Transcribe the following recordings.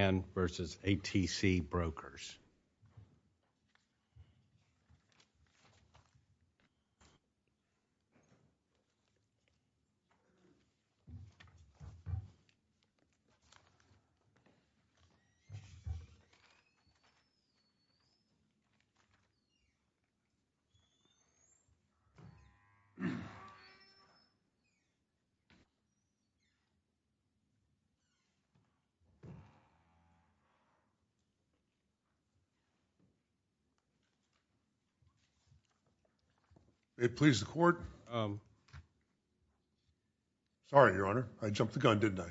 v. ATC Brokers. It pleases the Court. Sorry, Your Honor. I jumped the gun, didn't I?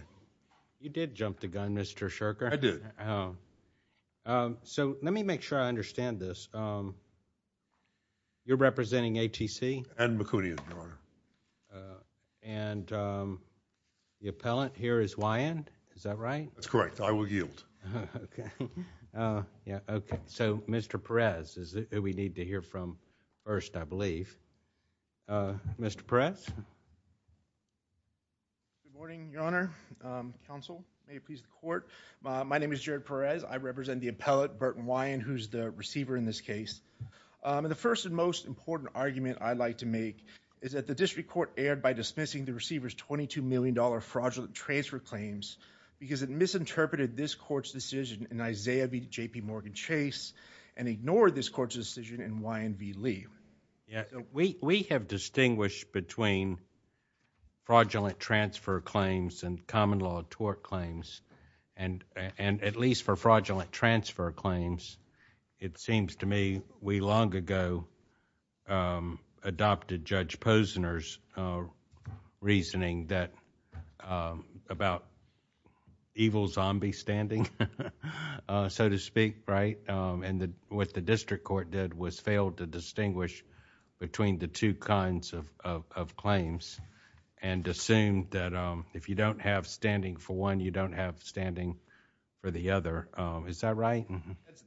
You did jump the gun, Mr. Sherker. I did. So, let me make sure I understand this. You're representing ATC? And McCoonian, Your Honor. And the appellant here is Wyand? Is that right? That's correct. I will yield. Okay. Yeah, okay. So, Mr. Perez is who we need to hear from first, I believe. Mr. Perez? Good morning, Your Honor, counsel. May it please the Court. My name is Jared Perez. I represent the appellant, Burton Wyand, who's the receiver in this case. The first and most important argument I'd like to make is that the District Court erred by dismissing the receiver's $22 million fraudulent transfer claims because it misinterpreted this Court's decision in Isaiah v. JPMorgan Chase and ignored this Court's decision in Wyand v. Lee. We have distinguished between fraudulent transfer claims and common law tort claims and at least for fraudulent transfer claims, it seems to me we long ago adopted Judge Posner's reasoning about evil zombie standing, so to speak, right? What the District Court did was fail to distinguish between the two kinds of claims and assumed that if you don't have standing for one, you don't stand for the other. Is that right?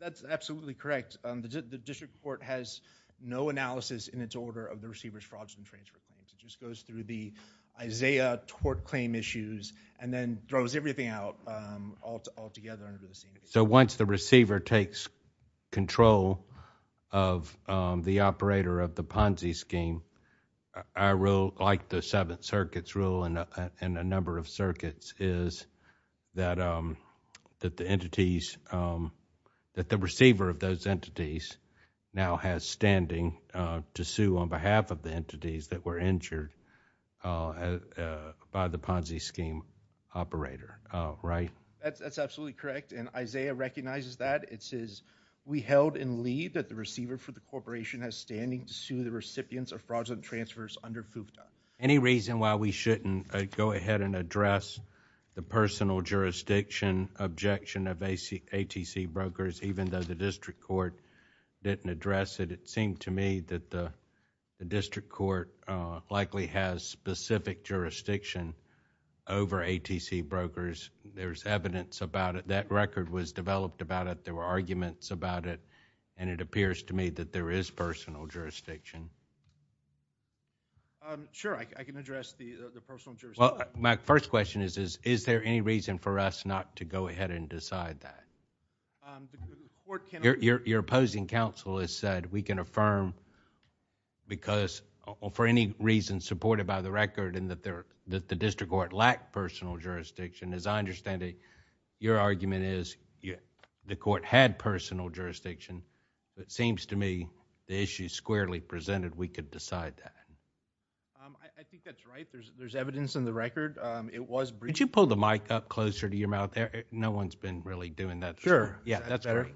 That's absolutely correct. The District Court has no analysis in its order of the receiver's fraudulent transfer claims. It just goes through the Isaiah tort claim issues and then throws everything out altogether under the same name. So once the receiver takes control of the operator of the Ponzi scheme, our rule, like the Seventh Circuit's rule and a number of circuits, is that the receiver of those entities now has standing to sue on behalf of the entities that were injured by the Ponzi scheme operator, right? That's absolutely correct and Isaiah recognizes that. It says, we held in Lee that the receiver for the corporation has standing to sue the recipients of fraudulent transfers under FUPA. Any reason why we shouldn't go ahead and address the personal jurisdiction objection of ATC brokers, even though the District Court didn't address it? It seemed to me that the District Court likely has specific jurisdiction over ATC brokers. There's evidence about it. That record was developed about it. There were arguments about it and it appears to me that there is personal jurisdiction. Sure, I can address the personal jurisdiction. My first question is, is there any reason for us not to go ahead and decide that? Your opposing counsel has said, we can affirm because for any reason supported by the record and that the District Court lacked personal jurisdiction. As I understand it, your argument is, the court had personal jurisdiction. It seems to me, the issue is squarely presented, we could decide that. I think that's right. There's evidence in the record. It was briefed. Could you pull the mic up closer to your mouth there? No one's been really doing that. Sure. Yeah, that's better.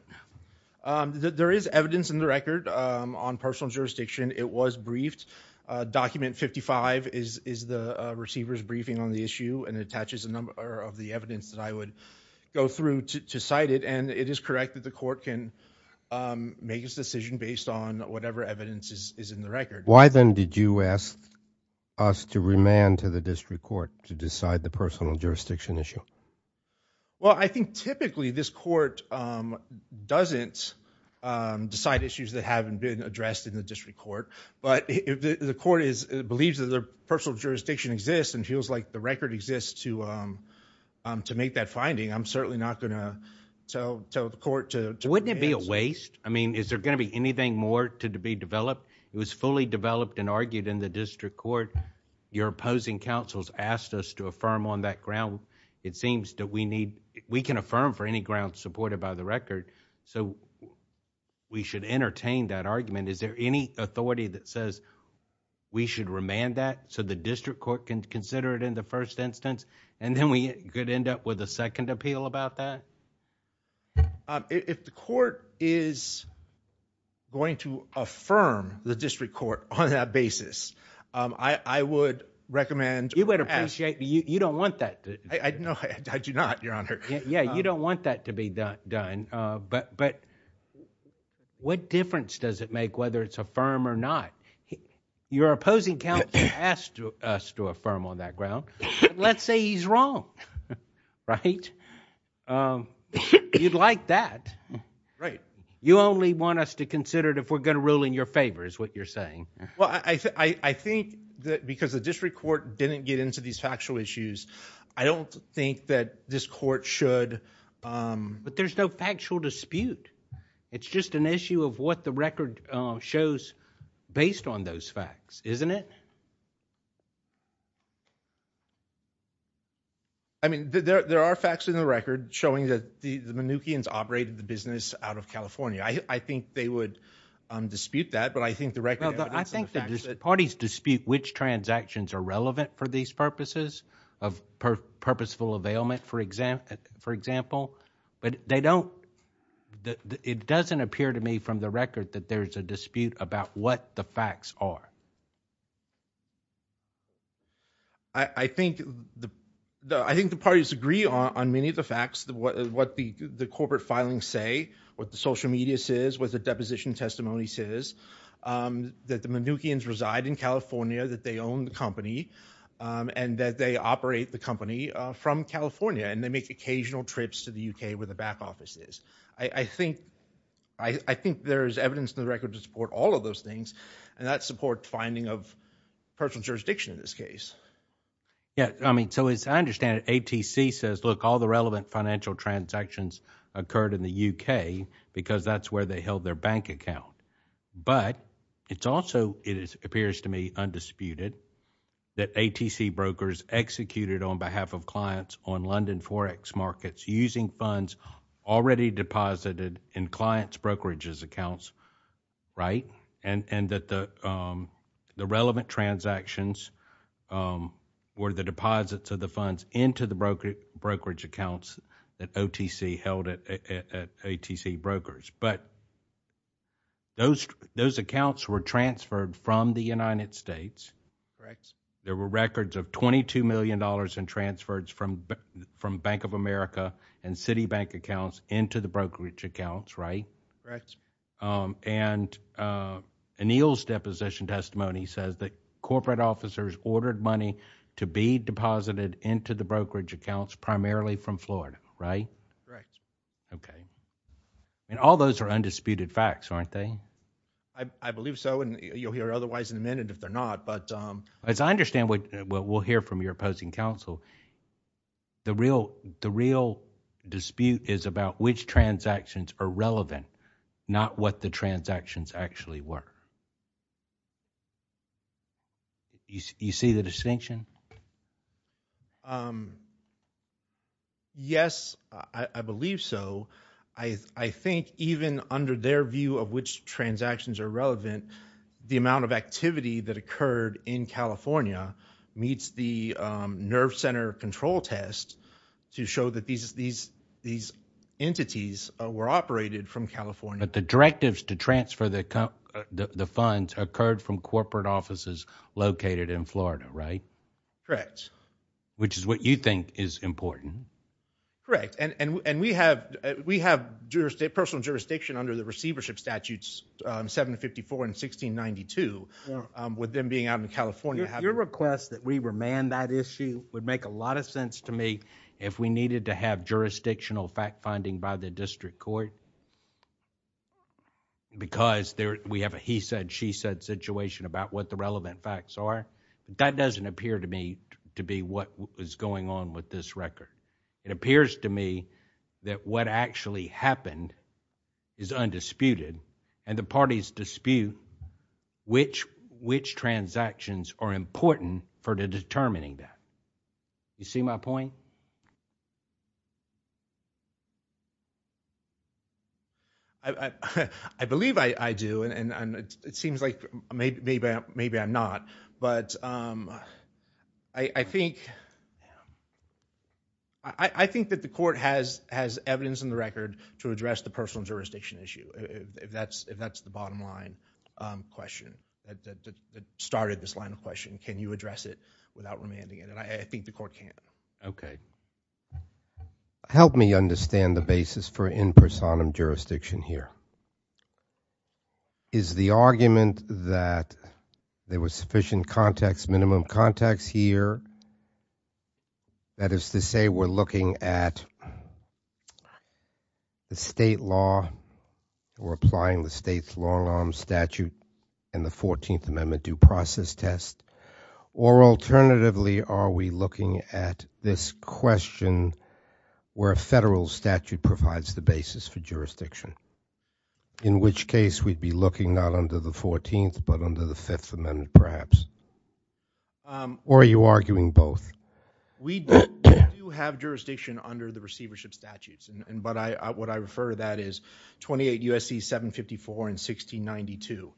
There is evidence in the record on personal jurisdiction. It was briefed. Document 55 is the receiver's briefing on the issue and attaches a number of the evidence that I would go through to cite it. It is correct that the court can make its decision based on whatever evidence is in the record. Why then did you ask us to remand to the District Court to decide the personal jurisdiction issue? Well, I think typically this court doesn't decide issues that haven't been addressed in the District Court. The court believes that the personal jurisdiction exists and feels like the record exists to make that finding. I'm certainly not going to tell the court to remand. Wouldn't it be a waste? I mean, is there going to be anything more to be developed? It was fully developed and argued in the District Court. Your opposing counsels asked us to affirm on that ground. It seems that we can affirm for any grounds supported by the record. We should entertain that argument. Is there any authority that says we should remand that so the District Court can consider it in the first instance and then we could end up with a second appeal about that? If the court is going to affirm the District Court on that basis, I would recommend... You would appreciate... you don't want that to... No, I do not, Your Honor. Yeah, you don't want that to be done, but what difference does it make whether it's affirmed or not? Your opposing counsel asked us to affirm on that ground. Let's say he's wrong, right? You'd like that. You only want us to consider it if we're going to rule in your favor is what you're saying. Well, I think that because the District Court didn't get into these factual issues, I don't think that this court should... based on those facts, isn't it? I mean, there are facts in the record showing that the Mnuchin's operated the business out of California. I think they would dispute that, but I think the record... I think that parties dispute which transactions are relevant for these purposes of purposeful I think the parties agree on many of the facts, what the corporate filings say, what the social media says, what the deposition testimony says, that the Mnuchin's reside in California, that they own the company, and that they operate the company from California, and they make occasional trips to the U.K. where the back office is. I think there is evidence in the record of those things, and that supports finding of personal jurisdiction in this case. Yeah. I mean, so as I understand it, ATC says, look, all the relevant financial transactions occurred in the U.K. because that's where they held their bank account. But it's also... it appears to me undisputed that ATC brokers executed on behalf of clients on London Forex markets using funds already deposited in clients' brokerages accounts, right? And that the relevant transactions were the deposits of the funds into the brokerage accounts that OTC held at ATC brokers. But those accounts were transferred from the United States. There were records of $22 million in transfers from Bank of America and Citibank accounts into the brokerage accounts, right? Correct. And Anil's deposition testimony says that corporate officers ordered money to be deposited into the brokerage accounts primarily from Florida, right? Correct. Okay. And all those are undisputed facts, aren't they? I believe so, and you'll hear otherwise in a minute if they're not, but... As I understand what we'll hear from your opposing counsel, the real dispute is about which transactions are relevant, not what the transactions actually were. You see the distinction? Yes, I believe so. I think even under their view of which transactions are relevant, the amount of activity that occurred in California meets the nerve center control test to show that these entities were operated from California. The directives to transfer the funds occurred from corporate offices located in Florida, right? Correct. Which is what you think is important. Correct. And we have personal jurisdiction under the receivership statutes, 754 and 1692, with them being out in California. Your request that we remand that issue would make a lot of sense to me if we needed to have jurisdictional fact-finding by the district court because we have a he said, she said situation about what the relevant facts are. That doesn't appear to me to be what was going on with this record. It appears to me that what actually happened is undisputed, and the parties dispute which transactions are important for determining that. You see my point? I believe I do, and it seems like maybe I'm not, but I think that the court has evidence in the record to address the personal jurisdiction issue. If that's the bottom line question that started this line of question, can you address it without remanding it? I think the court can. Help me understand the basis for in personam jurisdiction here. Is the argument that there was sufficient context, minimum context here, that is to say we're looking at the state law, we're applying the state's long arm statute and the 14th Amendment due process test, or alternatively are we looking at this question where a federal statute provides the basis for jurisdiction, in which case we'd be looking not under the 14th but under the 5th Amendment perhaps? Or are you arguing both? We do have jurisdiction under the receivership statutes, but what I refer to that is 28 U.S.C. 754 and 1692.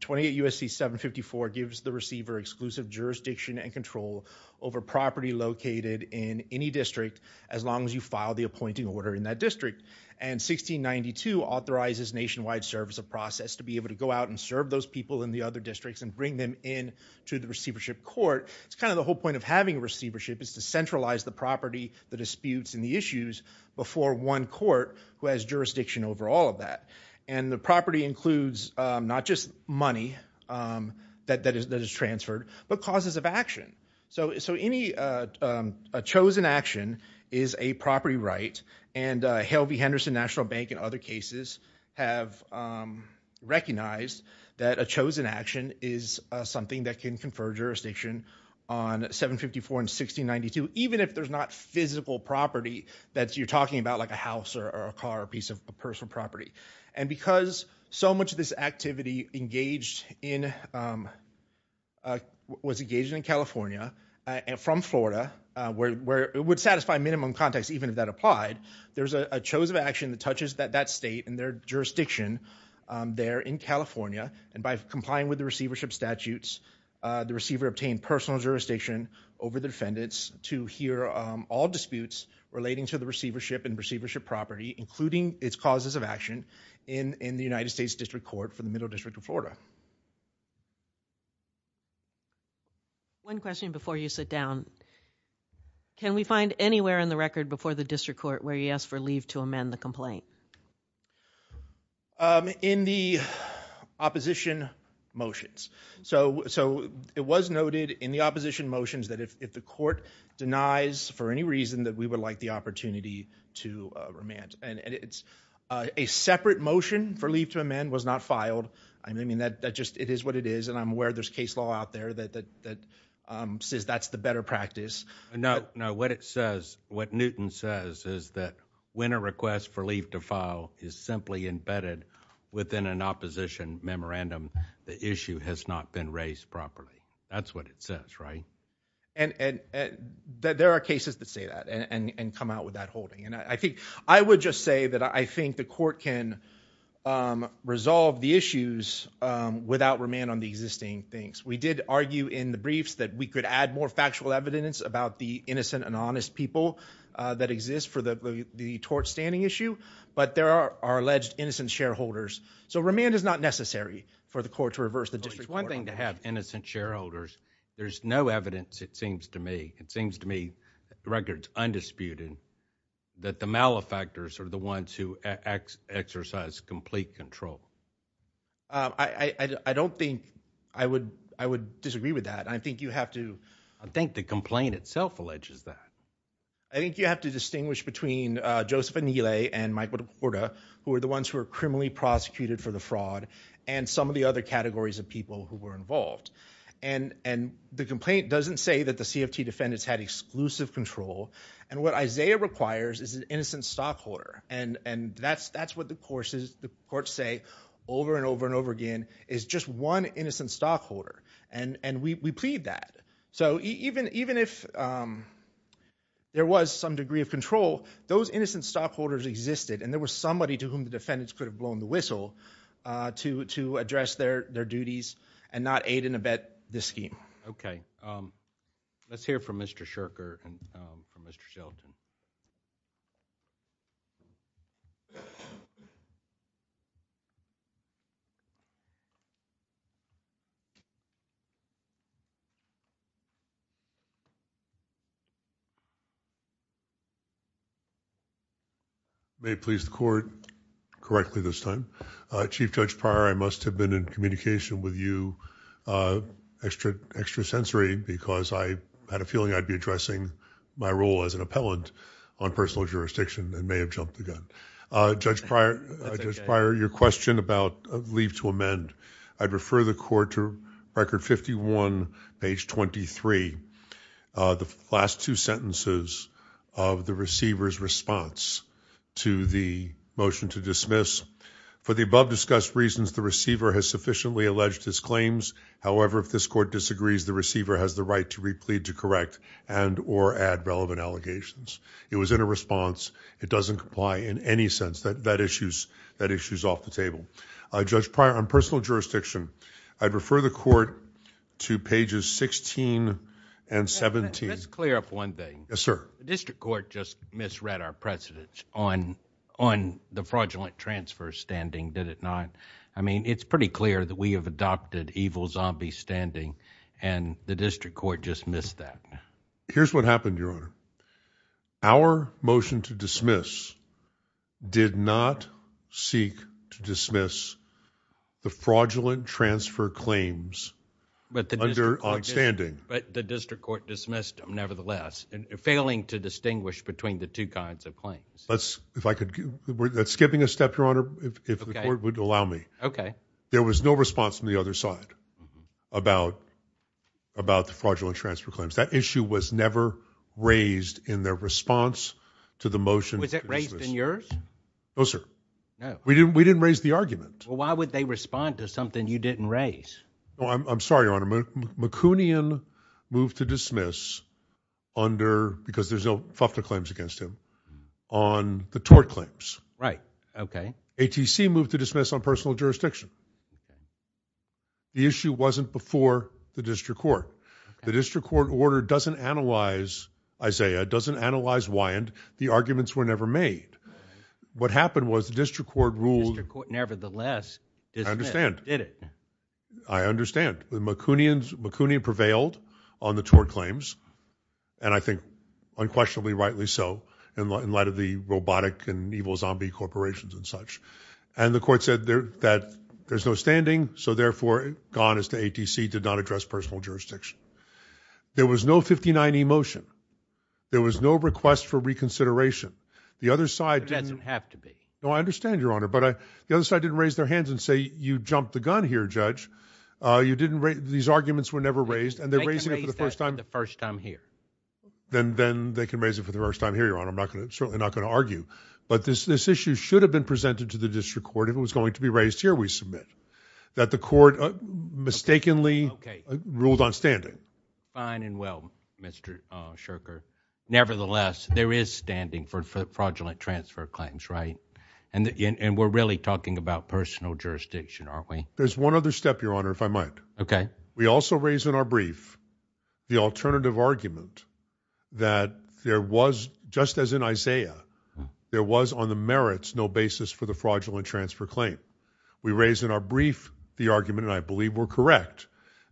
28 U.S.C. 754 gives the receiver exclusive jurisdiction and control over property located in any district as long as you file the appointing order in that district, and 1692 authorizes nationwide service of process to be able to go out and serve those people in the other districts and bring them in to the receivership court. It's kind of the whole point of having receivership is to centralize the property, the disputes and the issues before one court who has jurisdiction over all of that. And the property includes not just money that is transferred, but causes of action. So any chosen action is a property right, and Hale v. Henderson and other cases have recognized that a chosen action is something that can confer jurisdiction on 754 and 1692, even if there's not physical property that you're talking about like a house or a car or a piece of personal property. And because so much of this activity was engaged in California and from Florida, where it would satisfy minimum context even if that applied, there's a chosen action that touches that state and their jurisdiction there in California, and by complying with the receivership statutes, the receiver obtained personal jurisdiction over the defendants to hear all disputes relating to the receivership and receivership property, including its causes of action, in the United States District Court for the Middle District of Florida. One question before you sit down. Can we find anywhere in the record before the district court where he asked for leave to amend the complaint? In the opposition motions. So it was noted in the opposition motions that if the court denies for any reason that we would like the opportunity to remand. And it's a separate motion for leave to amend was not filed. I mean that just it is what it is, and I'm aware there's case law out there that says that's the better practice. No, no. What it says, what Newton says is that when a request for leave to file is simply embedded within an opposition memorandum, the issue has not been raised properly. That's what it says, right? And there are cases that say that and come out with that holding. And I think I would just say that I think the court can resolve the issues without remand on the existing things. We did the innocent and honest people that exist for the tort standing issue, but there are alleged innocent shareholders. So remand is not necessary for the court to reverse the district. It's one thing to have innocent shareholders. There's no evidence, it seems to me. It seems to me the record's undisputed that the malefactors are the ones who exercise complete control. I don't think I would disagree with that. I think you have to. I think the complaint itself alleges that. I think you have to distinguish between Joseph Anile and Michael DeCorda who are the ones who are criminally prosecuted for the fraud and some of the other categories of people who were involved. And the complaint doesn't say that the CFT defendants had exclusive control. And what Isaiah requires is an innocent stockholder. And that's what the courts say over and over and over again is just one innocent stockholder. And we plead that. So even if there was some degree of control, those innocent stockholders existed and there was somebody to whom the defendants could have blown the whistle to address their duties and not aid in a bad scheme. Okay. Let's hear from Mr. Shurker and from Mr. Shelton. May it please the court, correctly this time, Chief Judge Pryor, I must have been in communication with you extrasensory because I had a feeling I'd be addressing my role as an appellant on personal jurisdiction and may have jumped the gun. Judge Pryor, your question about leave to amend, I'd refer the court to Record 51, page 23, the last two sentences of the receiver's response to the motion to dismiss. For the above-discussed reasons, the receiver has sufficiently alleged his claims. However, if this court disagrees, the receiver has the right to replead to correct and or add relevant allegations. It was in a response. It doesn't comply in any sense. That issues off the table. Judge Pryor, on personal jurisdiction, I'd refer the court to pages 16 and 17. Let's clear up one thing. Yes, sir. The district court just misread our precedence on the fraudulent transfer standing, did it not? I mean, it's pretty clear that we have adopted evil zombie standing and the district court just missed that. Here's what happened, Your Honor. Our motion to dismiss did not seek to dismiss the fraudulent transfer claims under odd standing. But the district court dismissed them nevertheless, failing to distinguish between the two kinds of claims. That's skipping a step, Your Honor, if the court would allow me. Okay. There was no response from the other side about the fraudulent transfer claims. That issue was never raised in their response to the motion. Was it raised in yours? No, sir. No. We didn't raise the argument. Well, why would they respond to something you didn't raise? Well, I'm sorry, Your Honor. McCoonian moved to dismiss under, because there's no FUFTA claims against him, on the tort claims. Right. Okay. ATC moved to dismiss on personal jurisdiction. The issue wasn't before the district court. The district court order doesn't analyze Isaiah, doesn't analyze Wyand. The arguments were dismissed. I understand. I understand. McCoonian prevailed on the tort claims, and I think unquestionably rightly so, in light of the robotic and evil zombie corporations and such. And the court said that there's no standing, so therefore it's gone as to ATC did not address personal jurisdiction. There was no 59E motion. There was no request for reconsideration. The other side didn't... It doesn't have to be. No, I understand, Your Honor. But the other side didn't raise their hands and say, you jumped the gun here, Judge. These arguments were never raised, and they're raising it for the first time... They can raise that for the first time here. Then they can raise it for the first time here, Your Honor. I'm certainly not going to argue. But this issue should have been presented to the district court if it was going to be raised here, we submit, that the court mistakenly ruled on standing. Fine and well, Mr. Shirker. Nevertheless, there is standing for fraudulent transfer claims, right? And we're really talking about personal jurisdiction, aren't we? There's one other step, Your Honor, if I might. Okay. We also raised in our brief the alternative argument that there was, just as in Isaiah, there was on the merits no basis for the fraudulent transfer claim. We raised in our brief the argument, and I believe we're correct,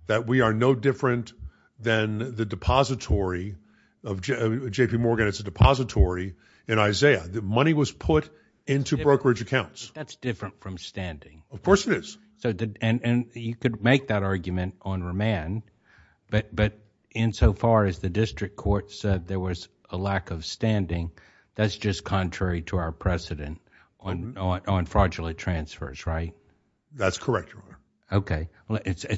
that we are no different than the depository of J.P. Morgan. It's a depository in Isaiah. The money was put into brokerage accounts. That's different from standing. Of course it is. And you could make that argument on remand, but insofar as the district court said there was a lack of standing, that's just contrary to our precedent on fraudulent transfers, right? That's correct, Your Honor. Okay.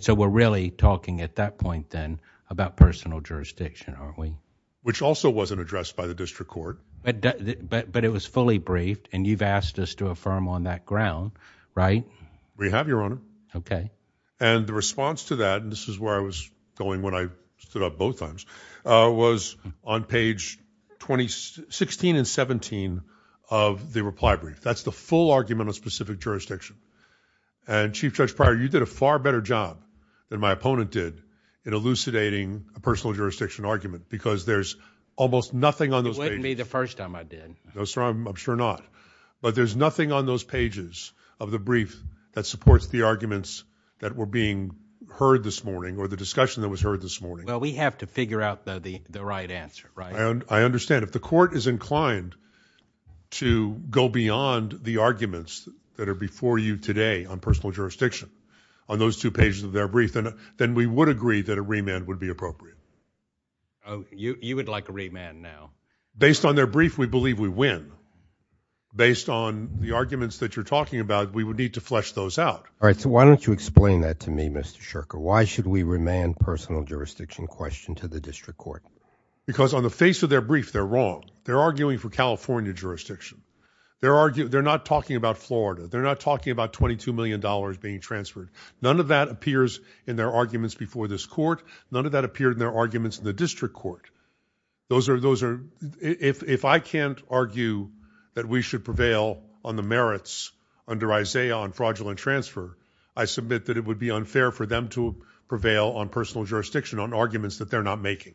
So we're really talking at that point then about personal jurisdiction, aren't we? Which also wasn't addressed by the district court. But it was fully briefed, and you've asked us to affirm on that ground, right? We have, Your Honor. Okay. And the response to that, and this is where I was going when I stood up both times, was on page 16 and 17 of the reply brief. That's the full argument on specific jurisdiction. And Chief Judge Pryor, you did a far better job than my opponent did in elucidating a personal jurisdiction argument, because there's almost nothing on those pages. It wouldn't be the first time I did. No, sir, I'm sure not. But there's nothing on those pages of the brief that supports the arguments that were being heard this morning, or the discussion that was heard this morning. Well, we have to figure out the right answer, right? I understand. If the court is inclined to go beyond the arguments that are before you today on personal jurisdiction, on those two pages of their brief, then we would agree that a remand would be appropriate. Oh, you would like a remand now? Based on their brief, we believe we win. Based on the arguments that you're talking about, we would need to flesh those out. All right. So why don't you explain that to me, Mr. Shurker? Why should we remand personal jurisdiction question to the district court? Because on the face of their brief, they're wrong. They're arguing for California jurisdiction. They're not talking about Florida. They're not talking about $22 million being transferred. None of that appears in their arguments before this court. None of that appeared in their arguments in the district court. If I can't argue that we should prevail on the merits under Isaiah on fraudulent transfer, I submit that it would be unfair for them to prevail on personal jurisdiction, on arguments that they're not making.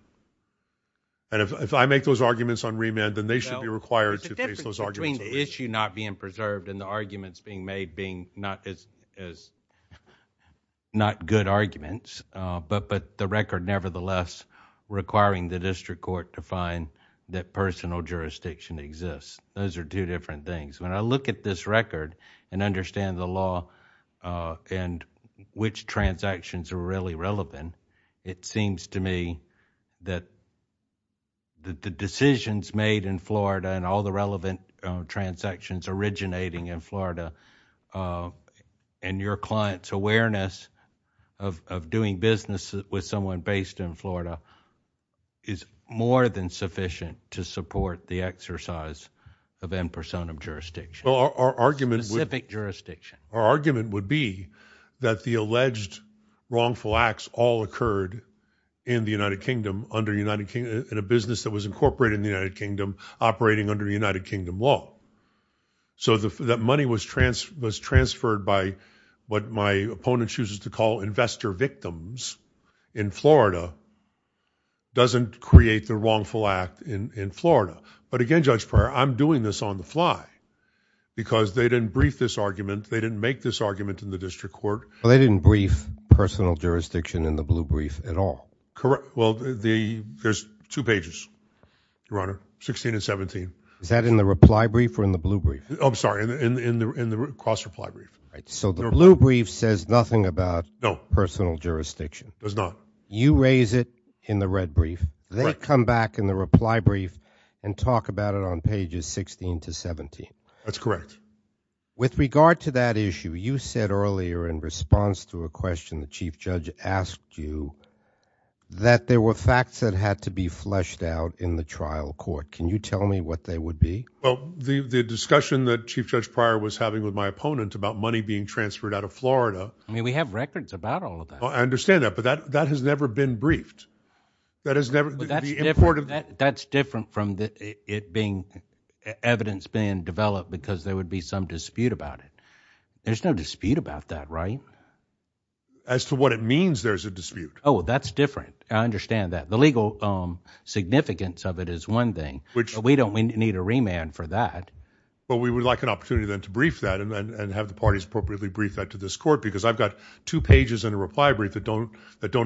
And if I make those arguments on remand, then they should be required to face those arguments. The difference between the issue not being preserved and the arguments being made being not good arguments, but the record nevertheless requiring the district court to find that personal jurisdiction exists. Those are two different things. When I look at this record and understand the law and which transactions are really relevant, it seems to me that the decisions made in Florida and all the relevant transactions originating in Florida and your client's awareness of doing business with someone based in Florida is more than sufficient to support the exercise of impersonum jurisdiction. Well, our argument- Specific jurisdiction. Our argument would be that the alleged wrongful acts all occurred in the United Kingdom, in a business that was incorporated in the United Kingdom, operating under United Kingdom law. So that money was transferred by what my opponent chooses to call investor victims in Florida doesn't create the wrongful act in Florida. But again, Judge Pryor, I'm doing this on the fly because they didn't brief this argument, didn't make this argument in the district court. Well, they didn't brief personal jurisdiction in the blue brief at all. Correct. Well, there's two pages, Your Honor, 16 and 17. Is that in the reply brief or in the blue brief? I'm sorry, in the cross-reply brief. Right. So the blue brief says nothing about personal jurisdiction. Does not. You raise it in the red brief. They come back in the reply brief and talk about it on pages 16 to 17. That's correct. With regard to that issue, you said earlier in response to a question the chief judge asked you that there were facts that had to be fleshed out in the trial court. Can you tell me what they would be? Well, the discussion that Chief Judge Pryor was having with my opponent about money being transferred out of Florida. I mean, we have records about all of that. I understand that, but that has never been briefed. That's different from it being evidence being developed because there would be some dispute about it. There's no dispute about that, right? As to what it means there's a dispute. Oh, that's different. I understand that. The legal significance of it is one thing, but we don't need a remand for that. But we would like an opportunity then to brief that and have the parties appropriately brief that to this court because I've got two pages in a reply brief that don't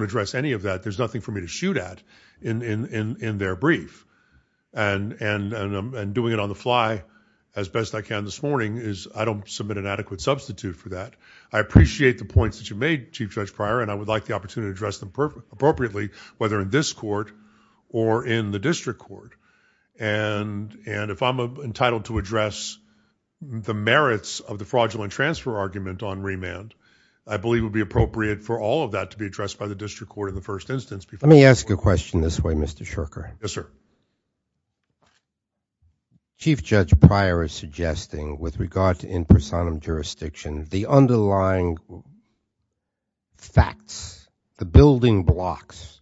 address any of that. There's nothing for me to shoot at in their brief. And doing it on the fly as best I can this morning is, I don't submit an adequate substitute for that. I appreciate the points that you made, Chief Judge Pryor, and I would like the opportunity to address them appropriately, whether in this court or in the district court. And if I'm entitled to address the merits of the fraudulent transfer argument on remand, I believe it would be appropriate for all of that to be addressed by the district court in the first instance. Let me ask a question this way, Mr. Shurker. Yes, sir. Chief Judge Pryor is suggesting, with regard to in personam jurisdiction, the underlying facts, the building blocks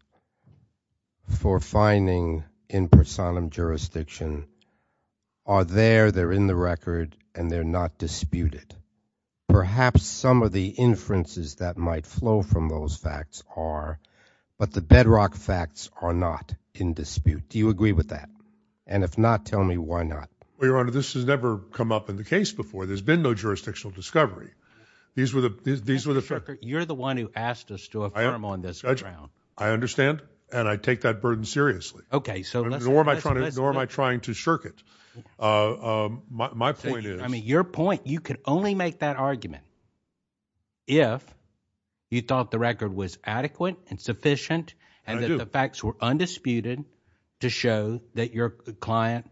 for finding in personam jurisdiction are there, they're in the record, and they're not disputed. Perhaps some of the inferences that might flow from those facts are, but the bedrock facts are not in dispute. Do you agree with that? And if not, tell me why not? Well, Your Honor, this has never come up in the case before. There's been no jurisdictional discovery. You're the one who asked us to affirm on this ground. I understand. And I take that burden seriously. Okay, so let's- Nor am I trying to shirk it. My point is- I mean, your point, you could only make that argument if you thought the record was adequate and sufficient- I do. And that the facts were undisputed to show that your client,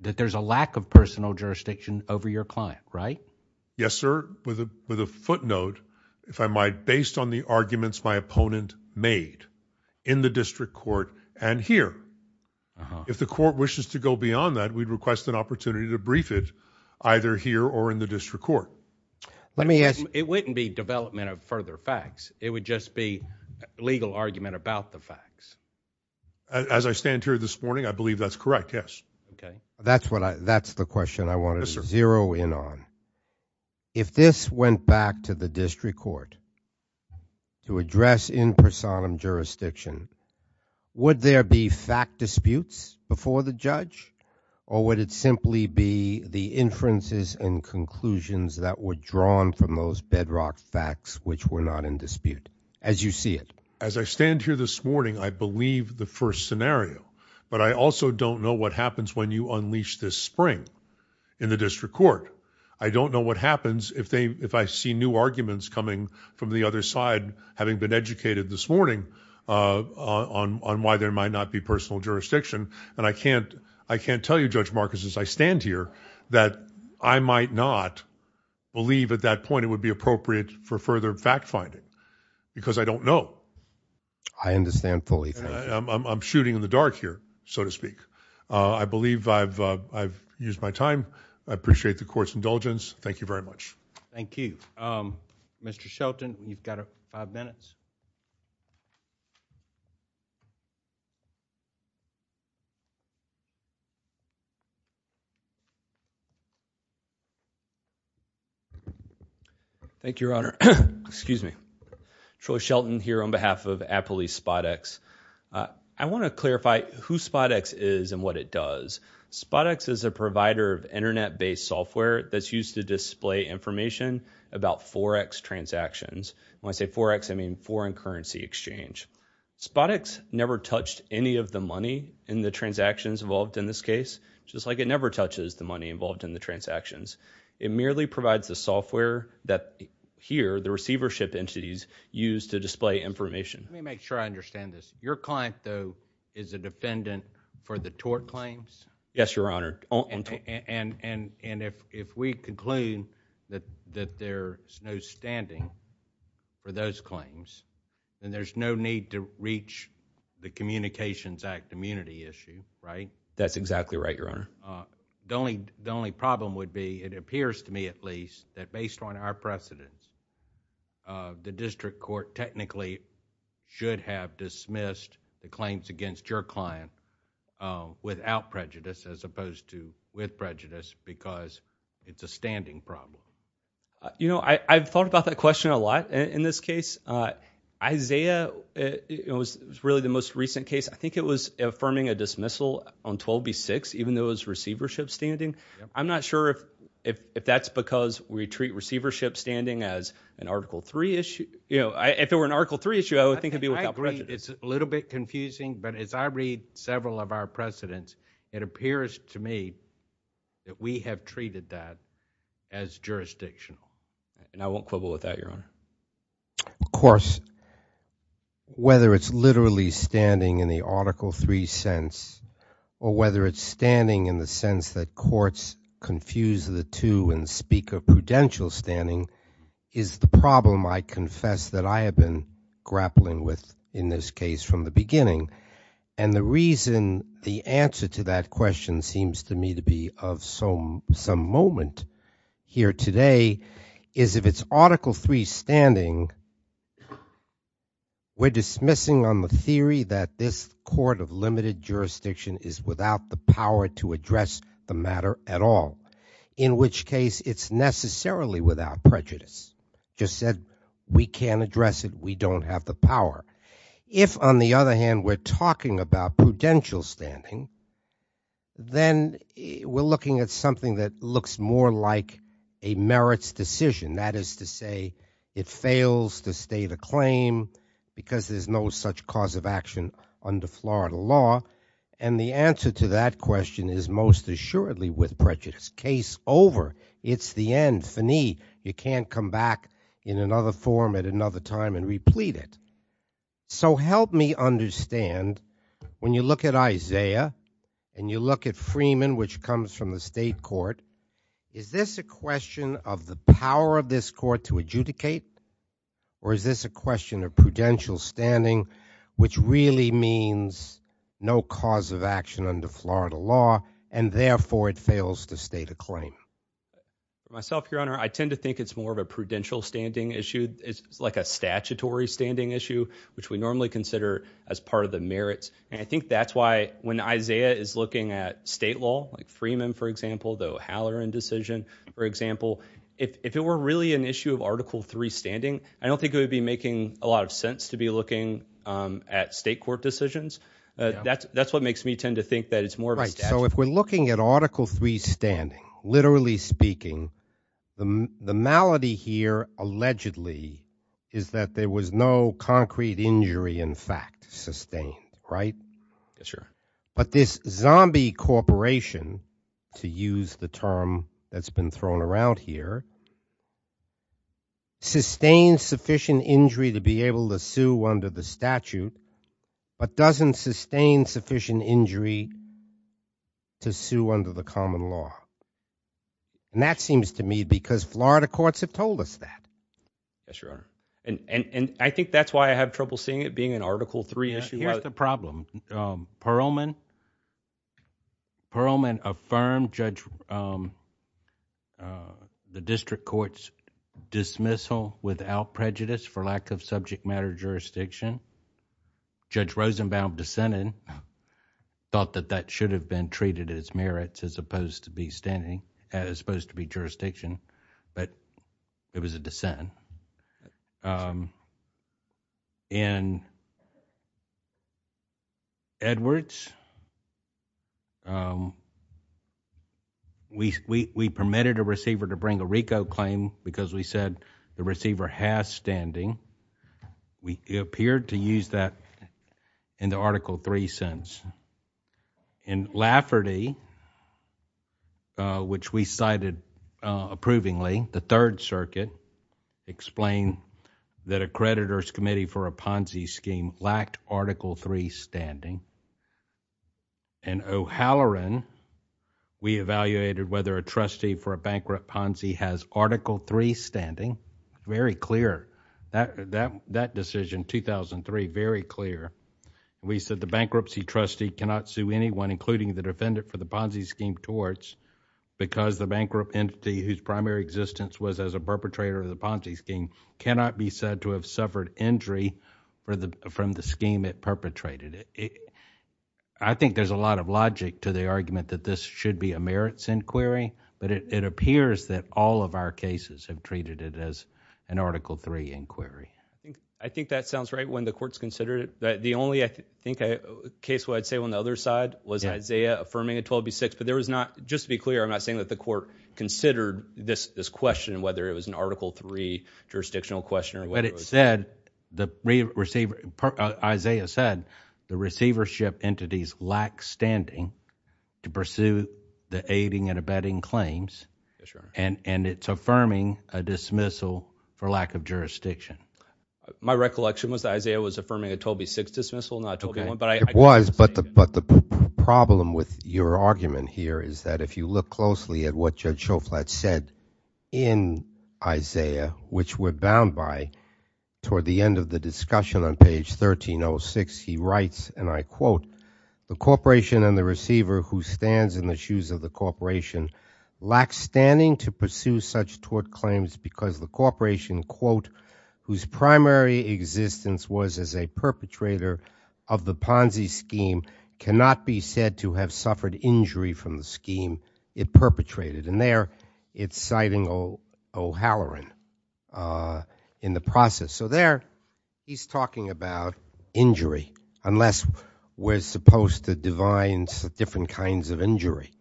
that there's a lack of personal jurisdiction over your client, right? Yes, sir. With a footnote, if I might, based on the arguments my opponent made in the district court and here, if the court wishes to go beyond that, we'd request an opportunity to brief it either here or in the district court. Let me ask- It wouldn't be development of further facts. It would just be legal argument about the facts. As I stand here this morning, I believe that's correct, yes. Okay. That's what I- that's the question I want to zero in on. If this went back to the district court to address in personam jurisdiction, would there be fact disputes before the judge? Or would it simply be the inferences and conclusions that were drawn from those bedrock facts which were not in dispute, as you see it? As I stand here this morning, I believe the first scenario. But I also don't know what happens when you unleash this spring in the district court. I don't know what happens if they- if I see new arguments coming from the other side, having been educated this morning on why there might not be personal jurisdiction. And I can't- I can't tell you, Judge Marcus, as I stand here, that I might not believe at that point it would be appropriate for further fact finding. Because I don't know. I understand fully. I'm shooting in the dark here, so to speak. I believe I've- I've used my time. I appreciate the court's indulgence. Thank you very much. Thank you. Mr. Shelton, you've got five minutes. Thank you, Your Honor. Excuse me. Troy Shelton here on behalf of Appley Spodex. I want to clarify who Spodex is and what it does. Spodex is a provider of internet-based software that's used to display information about Forex transactions. When I say Forex, I mean foreign currency exchange. Spodex never touched any of the money in the transactions involved in this case, just like it never touches the money involved in the transactions. It merely provides the software that, here, the receivership entities use to display information. Let me make sure I understand this. Your client, though, is a defendant for the tort claims? Yes, Your Honor. And- and- and if- if we conclude that- that there's no standing for those claims, then there's no need to reach the Communications Act immunity issue, right? That's exactly right, Your Honor. The only problem would be, it appears to me at least, that based on our precedence, the district court technically should have dismissed the claims against your client without prejudice as opposed to with prejudice because it's a standing problem. You know, I've thought about that question a lot in this case. Isaiah, it was really the most recent case. I think it was affirming a dismissal on 12B6, even though it was receivership standing. I'm not sure if- if- if that's because we treat receivership standing as an Article 3 issue. You know, if it were an Article 3 issue, I would think it'd be without prejudice. It's a little bit confusing, but as I read several of our precedents, it appears to me that we have treated that as jurisdictional. And I won't quibble with that, Your Honor. Of course, whether it's literally standing in the Article 3 sense or whether it's standing in the sense that courts confuse the two and speak of prudential standing is the problem, I confess, that I have been grappling with in this case from the beginning. And the reason the answer to that question seems to me to be of some- some moment here today is if it's Article 3 standing, we're dismissing on the theory that this court of limited jurisdiction is without the power to address the matter at all, in which case it's necessarily without prejudice. Just said we can't address it, we don't have the power. If, on the other hand, we're talking about prudential standing, then we're looking at something that looks more like a merits decision. That is to say it fails to state a claim because there's no such cause of action under Florida law. And the answer to that question is most assuredly with prejudice. Case over. It's the end. Finite. You can't come back in another form at another time and replete it. So help me understand when you look at Isaiah and you look at Freeman, which comes from the state court, is this a question of the power of this court to adjudicate or is this a question of prudential standing which really means no cause of action under Florida law and therefore it fails to state a claim? Myself, your honor, I tend to think it's more of a prudential standing issue. It's like a statutory standing issue, which we normally consider as part of the merits. And I think that's why when Isaiah is looking at state law, like Freeman, for example, the Halloran decision, for example, if it were really an issue of Article III standing, I don't think it would be making a lot of sense to be looking at state court decisions. That's what makes me tend to think that it's more of a statute. So if we're looking at Article III standing, literally speaking, the malady here allegedly is that there was no concrete injury, in fact, sustained, right? Yes, sir. But this zombie corporation, to use the term that's been thrown around here, sustains sufficient injury to be able to sue under the statute, but doesn't sustain sufficient injury to sue under the common law. And that seems to me because Florida courts have told us that. Yes, your honor. And I think that's why I have trouble seeing it being an Article III issue. Here's the problem. Perelman affirmed the district court's dismissal without prejudice for lack of subject matter jurisdiction. Judge Rosenbaum dissented, thought that that should have been merits as opposed to be standing, as opposed to be jurisdiction, but it was a dissent. In Edwards, we permitted a receiver to bring a RICO claim because we said the receiver has standing. We appeared to use that in the Article III sense. In Lafferty, which we cited approvingly, the Third Circuit explained that a creditor's committee for a Ponzi scheme lacked Article III standing. In O'Halloran, we evaluated whether a trustee for a bankrupt Ponzi has Article III standing. Very clear. That decision, 2003, very clear. We said the bankruptcy trustee cannot sue anyone, including the defendant, for the Ponzi scheme torts because the bankrupt entity whose primary existence was as a perpetrator of the Ponzi scheme cannot be said to have suffered injury from the scheme it perpetrated. I think there's a lot of logic to the argument that this should be a merits inquiry, but it appears that all of our cases have treated it as an Article III inquiry. I think that sounds right when the court's considered it. The only case where I'd say on the other side was Isaiah affirming a 12B6, but just to be clear, I'm not saying that the court considered this question, whether it was an Article III jurisdictional question. Isaiah said the receivership entities lack standing to pursue the aiding and abetting claims, and it's affirming a dismissal for lack of jurisdiction. My recollection was Isaiah was affirming a 12B6 dismissal, not 12B1, but I- It was, but the problem with your argument here is that if you look closely at what Judge toward the end of the discussion on page 1306, he writes, and I quote, the corporation and the receiver who stands in the shoes of the corporation lack standing to pursue such tort claims because the corporation, quote, whose primary existence was as a perpetrator of the Ponzi scheme cannot be said to have suffered injury from the scheme it perpetrated, and there it's citing O'Halloran in the process. So there he's talking about injury, unless we're supposed to divine different kinds of injury,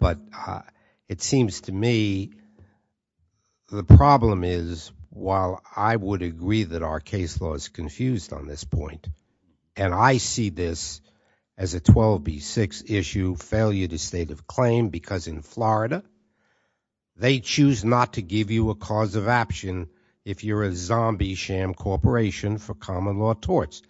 but it seems to me the problem is, while I would agree that our case law is confused on this point, and I see this as a 12B6 issue failure to state of claim because in Florida they choose not to give you a cause of action if you're a zombie sham corporation for common law torts.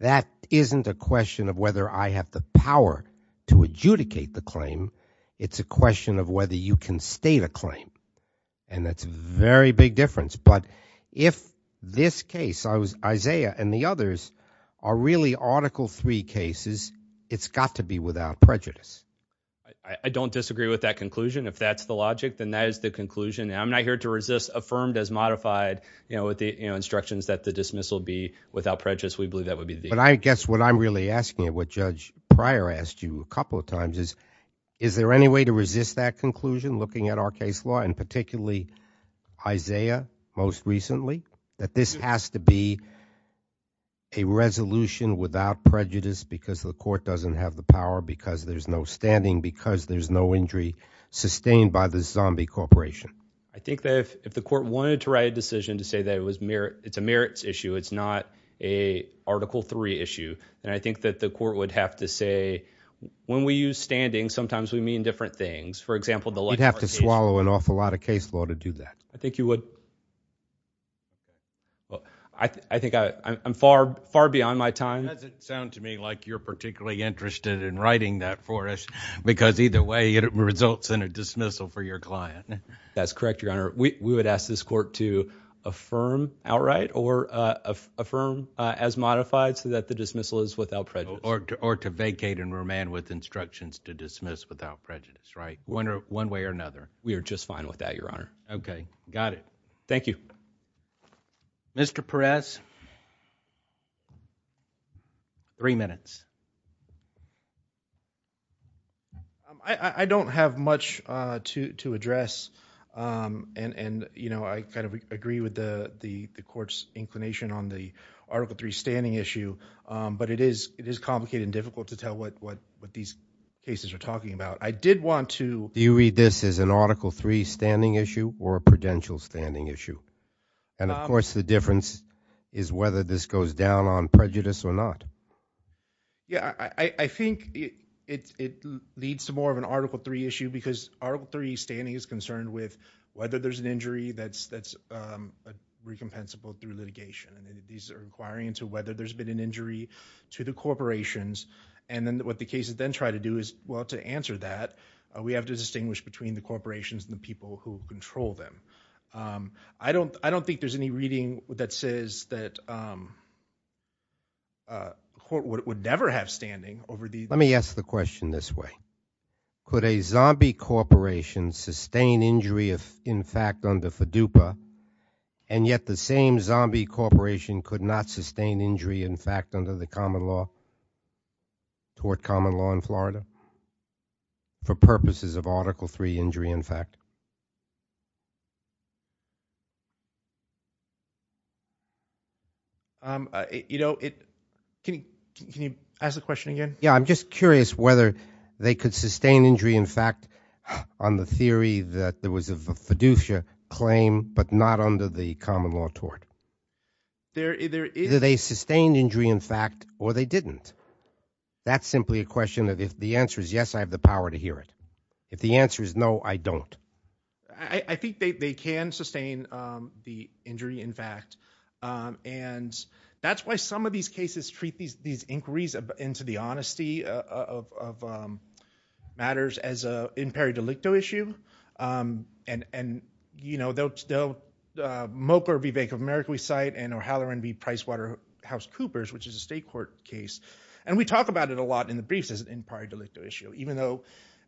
That isn't a question of whether I have the power to adjudicate the claim. It's a question of whether you can state a claim, and that's a very big difference. But if this case, Isaiah and the others, are really article three cases, it's got to be without prejudice. I don't disagree with that conclusion. If that's the logic, then that is the conclusion. And I'm not here to resist affirmed as modified with the instructions that the dismissal be without prejudice. We believe that would be the case. But I guess what I'm really asking, what Judge Pryor asked you a couple of times is, is there any way to resist that conclusion looking at our case law, and particularly Isaiah most recently? That this has to be a resolution without prejudice because the court doesn't have the power, because there's no standing, because there's no injury sustained by the zombie corporation. I think that if the court wanted to write a decision to say that it's a merits issue, it's not a article three issue. And I think that the court would have to say, when we use standing, sometimes we mean different things. For example, the like. You'd have to swallow an awful lot of case law to do that. I think you would. I think I'm far, far beyond my time. Does it sound to me like you're particularly interested in writing that for us? Because either way, it results in a dismissal for your client. That's correct, Your Honor. We would ask this court to affirm outright or affirm as modified so that the dismissal is without prejudice. Or to vacate and remand with instructions to dismiss without prejudice, right? One way or another. We are just fine with that, Your Honor. Okay, got it. Thank you. Mr. Perez. Three minutes. I don't have much to address. And I kind of agree with the court's inclination on the article three standing issue. But it is complicated and difficult to tell what these cases are talking about. I did want to- Do you read this as an article three standing issue or a prudential standing issue? And of course, the difference is whether this goes down on prejudice or not. Yeah, I think it leads to more of an article three issue because article three standing is concerned with whether there's an injury that's recompensable through litigation. And these are inquiring into whether there's been an injury to the corporations. And then what the cases then try to do is, well, to answer that, we have to distinguish between the corporations and the people who control them. I don't think there's any reading that says that the court would never have standing over the- Let me ask the question this way. Could a zombie corporation sustain injury, in fact, under FEDUPA, and yet the same zombie corporation could not sustain injury, in fact, under the common law toward common law in Florida for purposes of article three injury, in fact? Can you ask the question again? Yeah, I'm just curious whether they could sustain injury, in fact, on the theory that there was a FEDUPA claim, but not under the common law tort. Either they sustained injury, in fact, or they didn't. That's simply a question that if the answer is yes, I have the power to hear it. If the answer is no, I don't. I think they can sustain the injury, in fact, and that's why some of these cases treat these inquiries into the honesty of matters as an imperi delicto issue. And, you know, they'll moke or bevake of America, we cite in O'Halloran v. PricewaterhouseCoopers, which is a state court case, and we talk about it a lot in the briefs as an imperi delicto issue, even though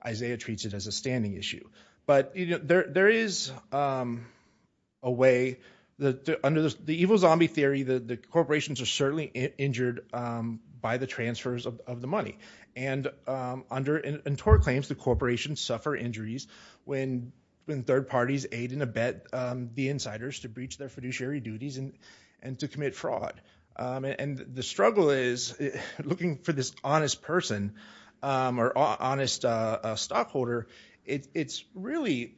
Isaiah treats it as a standing issue. But there is a way, under the evil zombie theory, the corporations are certainly injured by the transfers of the money. And under tort claims, the corporations suffer injuries when third parties aid and abet the insiders to breach their fiduciary duties and to commit fraud. And the struggle is, looking for this honest person or honest stockholder, it's really,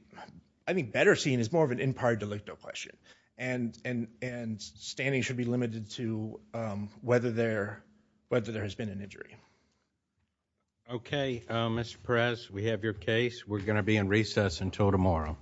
I think, better seen as more of an imperi delicto question. And standing should be limited to whether there has been an injury. Okay, Mr. Perez, we have your case. We're going to be in recess until tomorrow.